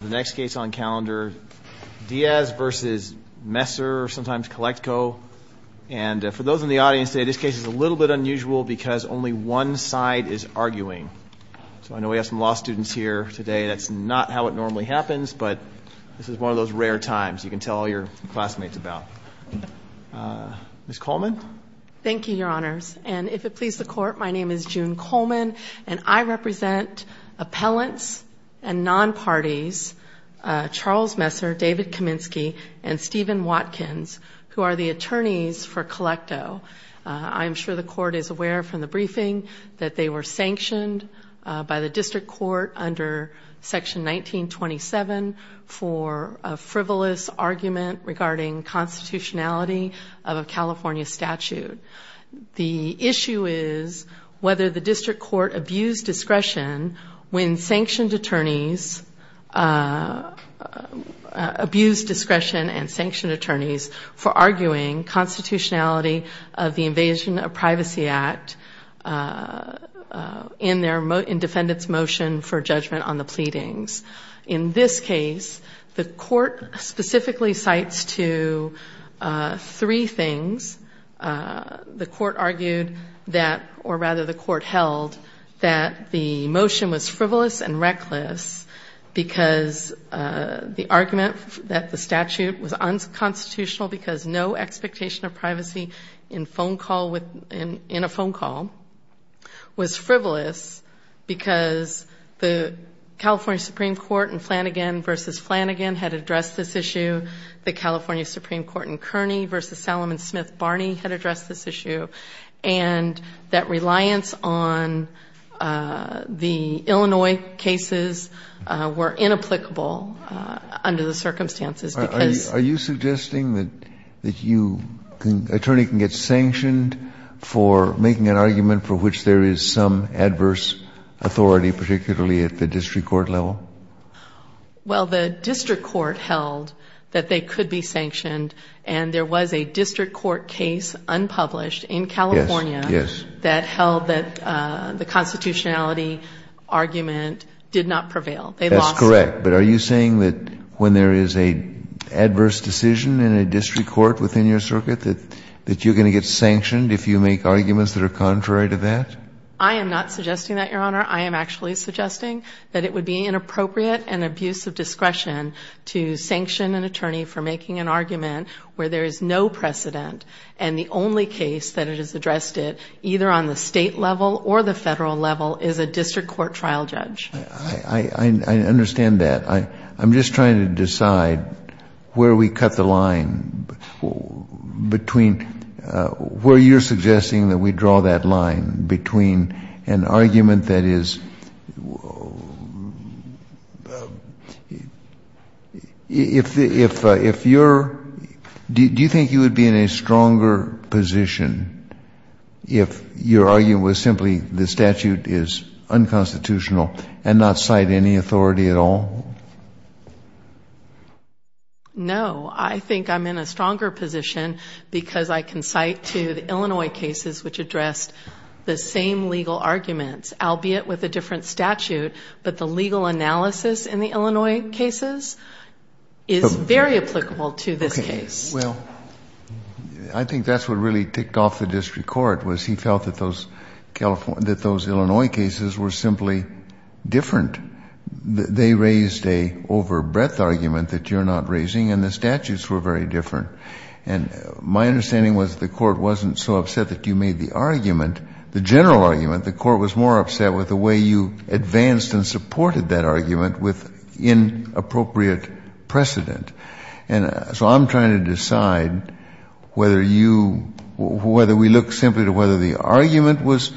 The next case on calendar, Diaz v. Messer, sometimes Collecto. And for those in the audience today, this case is a little bit unusual because only one side is arguing. So I know we have some law students here today. That's not how it normally happens, but this is one of those rare times you can tell all your classmates about. Ms. Coleman? Thank you, Your Honors. And if it pleases the Court, my name is June Coleman, and I represent appellants and non-parties, Charles Messer, David Kaminsky, and Stephen Watkins, who are the attorneys for Collecto. I'm sure the Court is aware from the briefing that they were sanctioned by the district court under Section 1927 for a frivolous argument regarding constitutionality of a California statute. The issue is whether the district court abused discretion when sanctioned attorneys abused discretion and sanctioned attorneys for arguing constitutionality of the Invasion of Privacy Act in defendant's motion for judgment on the pleadings. In this case, the Court specifically cites to three things. The Court argued that, or rather the Court held, that the motion was frivolous and reckless because the argument that the statute was unconstitutional because no expectation of privacy in a phone call was frivolous because the California Supreme Court in Flanagan v. Flanagan had addressed this issue, the California Supreme Court in Kearney v. Salomon Smith Barney had addressed this issue, and that reliance on the Illinois cases were inapplicable under the circumstances because And the Court argued that the motion was frivolous and reckless. Kennedy, are you suggesting that you, the attorney can get sanctioned for making an argument for which there is some adverse authority, particularly at the district court level? Well, the district court held that they could be sanctioned, and there was a district court case unpublished in California that held that the constitutionality argument did not prevail. They lost it. That's correct. But are you saying that when there is an adverse decision in a district court within your circuit that you're going to get sanctioned if you make arguments that are contrary to that? I am not suggesting that, Your Honor. to sanction an attorney for making an argument where there is no precedent, and the only case that has addressed it, either on the state level or the federal level, is a district court trial judge. I understand that. I'm just trying to decide where we cut the line between where you're suggesting that we draw that line between an argument that is, if you're, do you think you would be in a stronger position if your argument was simply the statute is unconstitutional and not cite any authority at all? No. I think I'm in a stronger position because I can cite to the Illinois cases which addressed the same legal arguments, albeit with a different statute, but the legal analysis in the Illinois cases is very applicable to this case. Okay. Well, I think that's what really ticked off the district court was he felt that those Illinois cases were simply different. They raised an overbreadth argument that you're not raising, and the statutes were very different. And my understanding was the court wasn't so upset that you made the argument, the general argument. The court was more upset with the way you advanced and supported that argument with inappropriate precedent. And so I'm trying to decide whether you, whether we look simply to whether the argument was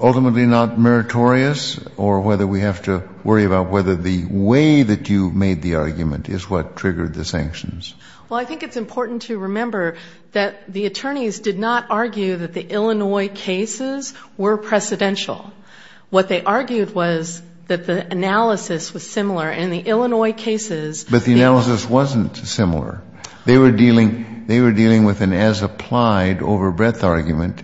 ultimately not meritorious or whether we have to worry about whether the way that you made the argument is what triggered the sanctions. Well, I think it's important to remember that the attorneys did not argue that the Illinois cases were precedential. What they argued was that the analysis was similar in the Illinois cases. But the analysis wasn't similar. They were dealing with an as-applied overbreadth argument.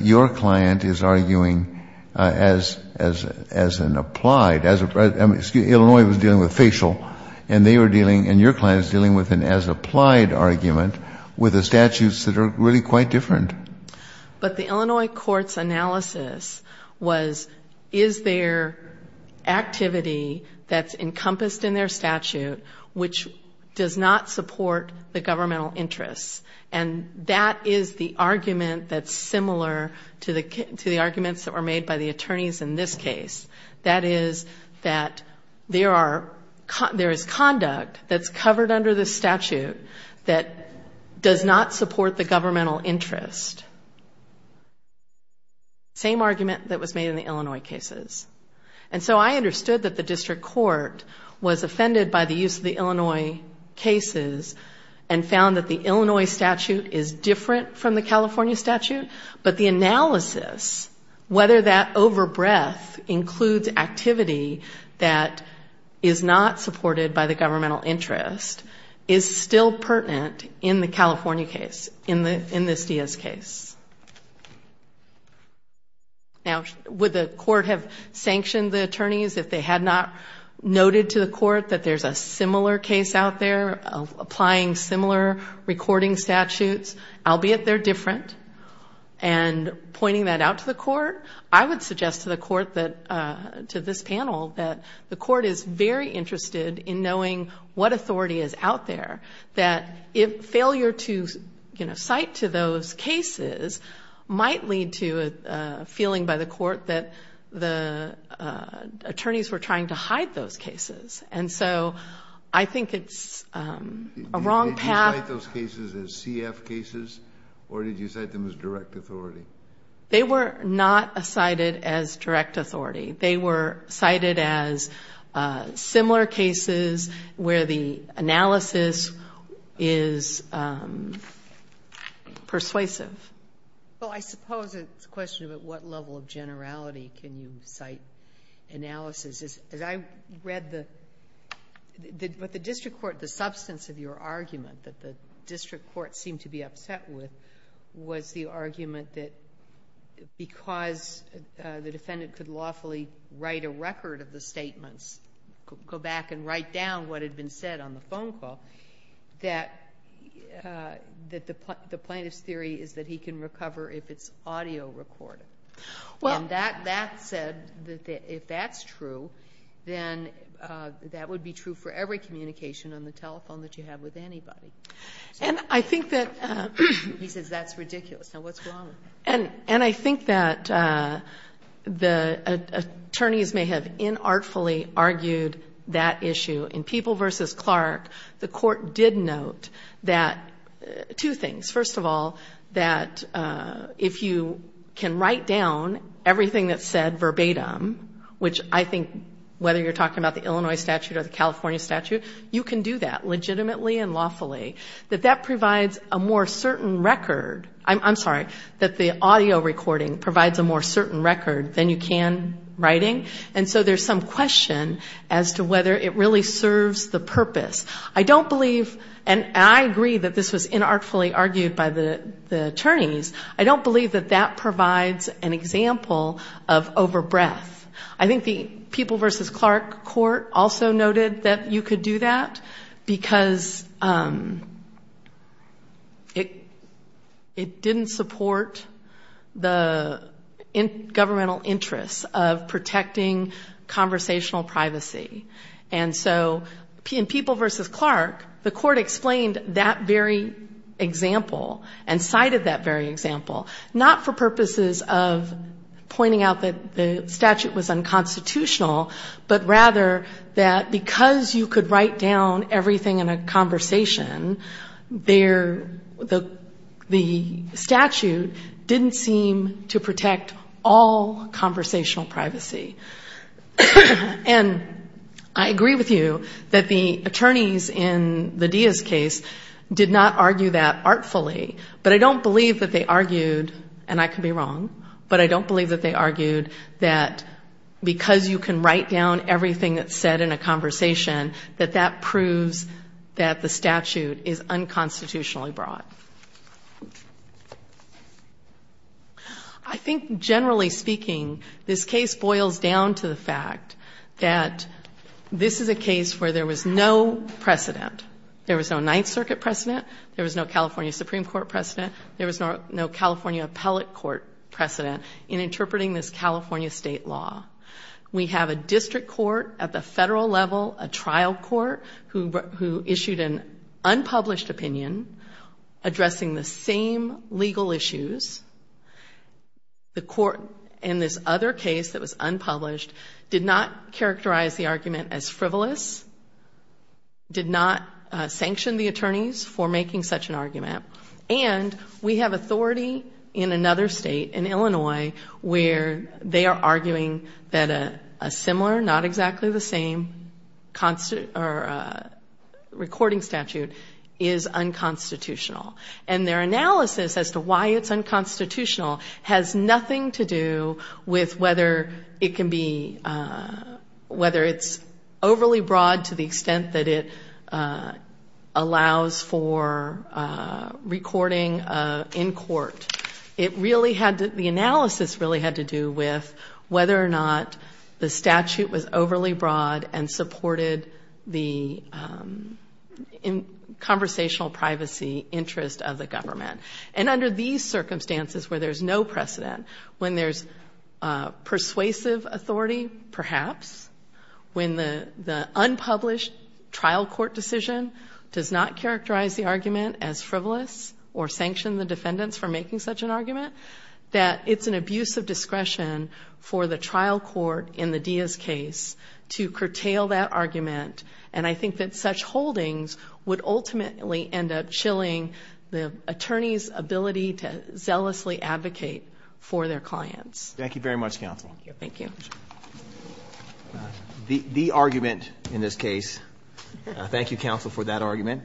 Your client is arguing as an applied. Illinois was dealing with facial, and they were dealing, and your client is dealing with an as-applied argument with the statutes that are really quite different. But the Illinois court's analysis was, is there activity that's encompassed in their statute which does not support the governmental interests? And that is the argument that's similar to the arguments that were made by the attorneys in this case. That is that there is conduct that's covered under the statute that does not support the governmental interest. Same argument that was made in the Illinois cases. And so I understood that the district court was offended by the use of the Illinois cases and found that the Illinois statute is different from the California statute. But the analysis, whether that overbreadth includes activity that is not supported by the governmental interest, is still pertinent in the California case, in this DS case. Now, would the court have sanctioned the attorneys if they had not noted to the court that there's a similar case out there, applying similar recording statutes, albeit they're different, and pointing that out to the court? I would suggest to the court that, to this panel, that the court is very interested in knowing what authority is out there, that failure to cite to those cases might lead to a feeling by the court that the attorneys were trying to hide those cases. And so I think it's a wrong path. Did you cite those cases as CF cases, or did you cite them as direct authority? They were not cited as direct authority. They were cited as similar cases where the analysis is persuasive. Well, I suppose it's a question of at what level of generality can you cite analysis. As I read the district court, the substance of your argument that the district court seemed to be upset with was the argument that because the defendant could lawfully write a record of the statements, go back and write down what had been said on the phone call, that the plaintiff's theory is that he can recover if it's audio recorded. And that said that if that's true, then that would be true for every communication on the telephone that you have with anybody. And I think that... He says that's ridiculous. Now, what's wrong with that? And I think that the attorneys may have inartfully argued that issue. In People v. Clark, the court did note that two things. First of all, that if you can write down everything that's said verbatim, which I think whether you're talking about the Illinois statute or the California statute, you can do that legitimately and lawfully, that that provides a more certain record. I'm sorry, that the audio recording provides a more certain record than you can writing. And so there's some question as to whether it really serves the purpose. I don't believe, and I agree that this was inartfully argued by the attorneys, I don't believe that that provides an example of over-breath. I think the People v. Clark court also noted that you could do that because it didn't support the governmental interests of protecting conversational privacy. And so in People v. Clark, the court explained that very example and cited that very example, not for purposes of pointing out that the statute was unconstitutional, but rather that because you could write down everything in a conversation, the statute didn't seem to protect all conversational privacy. And I agree with you that the attorneys in the Diaz case did not argue that artfully, but I don't believe that they argued, and I could be wrong, but I don't believe that they argued that because you can write down everything that's said in a conversation, that that proves that the statute is unconstitutionally broad. I think generally speaking, this case boils down to the fact that this is a case where there was no precedent. There was no Ninth Circuit precedent. There was no California Supreme Court precedent. There was no California appellate court precedent in interpreting this California state law. We have a district court at the federal level, a trial court who issued an unpublished opinion, addressing the same legal issues. The court in this other case that was unpublished did not characterize the argument as frivolous, did not sanction the attorneys for making such an argument, and we have authority in another state, in Illinois, where they are arguing that a similar, not exactly the same, recording statute is unconstitutional. And their analysis as to why it's unconstitutional has nothing to do with whether it can be, whether it's overly broad to the extent that it allows for recording in court. It really had to, the analysis really had to do with whether or not the statute was overly broad and supported the conversational privacy interest of the government. And under these circumstances where there's no precedent, when there's persuasive authority, perhaps, when the unpublished trial court decision does not characterize the argument as frivolous or sanction the defendants for making such an argument, that it's an abuse of discretion for the trial court in the Diaz case to curtail that argument. And I think that such holdings would ultimately end up chilling the attorney's ability to zealously advocate for their clients. Thank you very much, Counsel. Thank you. The argument in this case, thank you, Counsel, for that argument,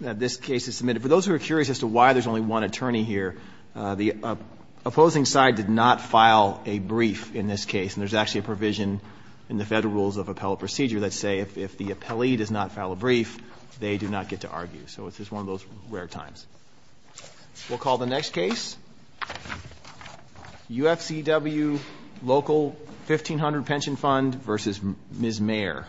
this case is submitted. And for those who are curious as to why there's only one attorney here, the opposing side did not file a brief in this case. And there's actually a provision in the Federal Rules of Appellate Procedure that say if the appellee does not file a brief, they do not get to argue. So it's just one of those rare times. We'll call the next case UFCW Local 1500 Pension Fund v. Ms. Mayer.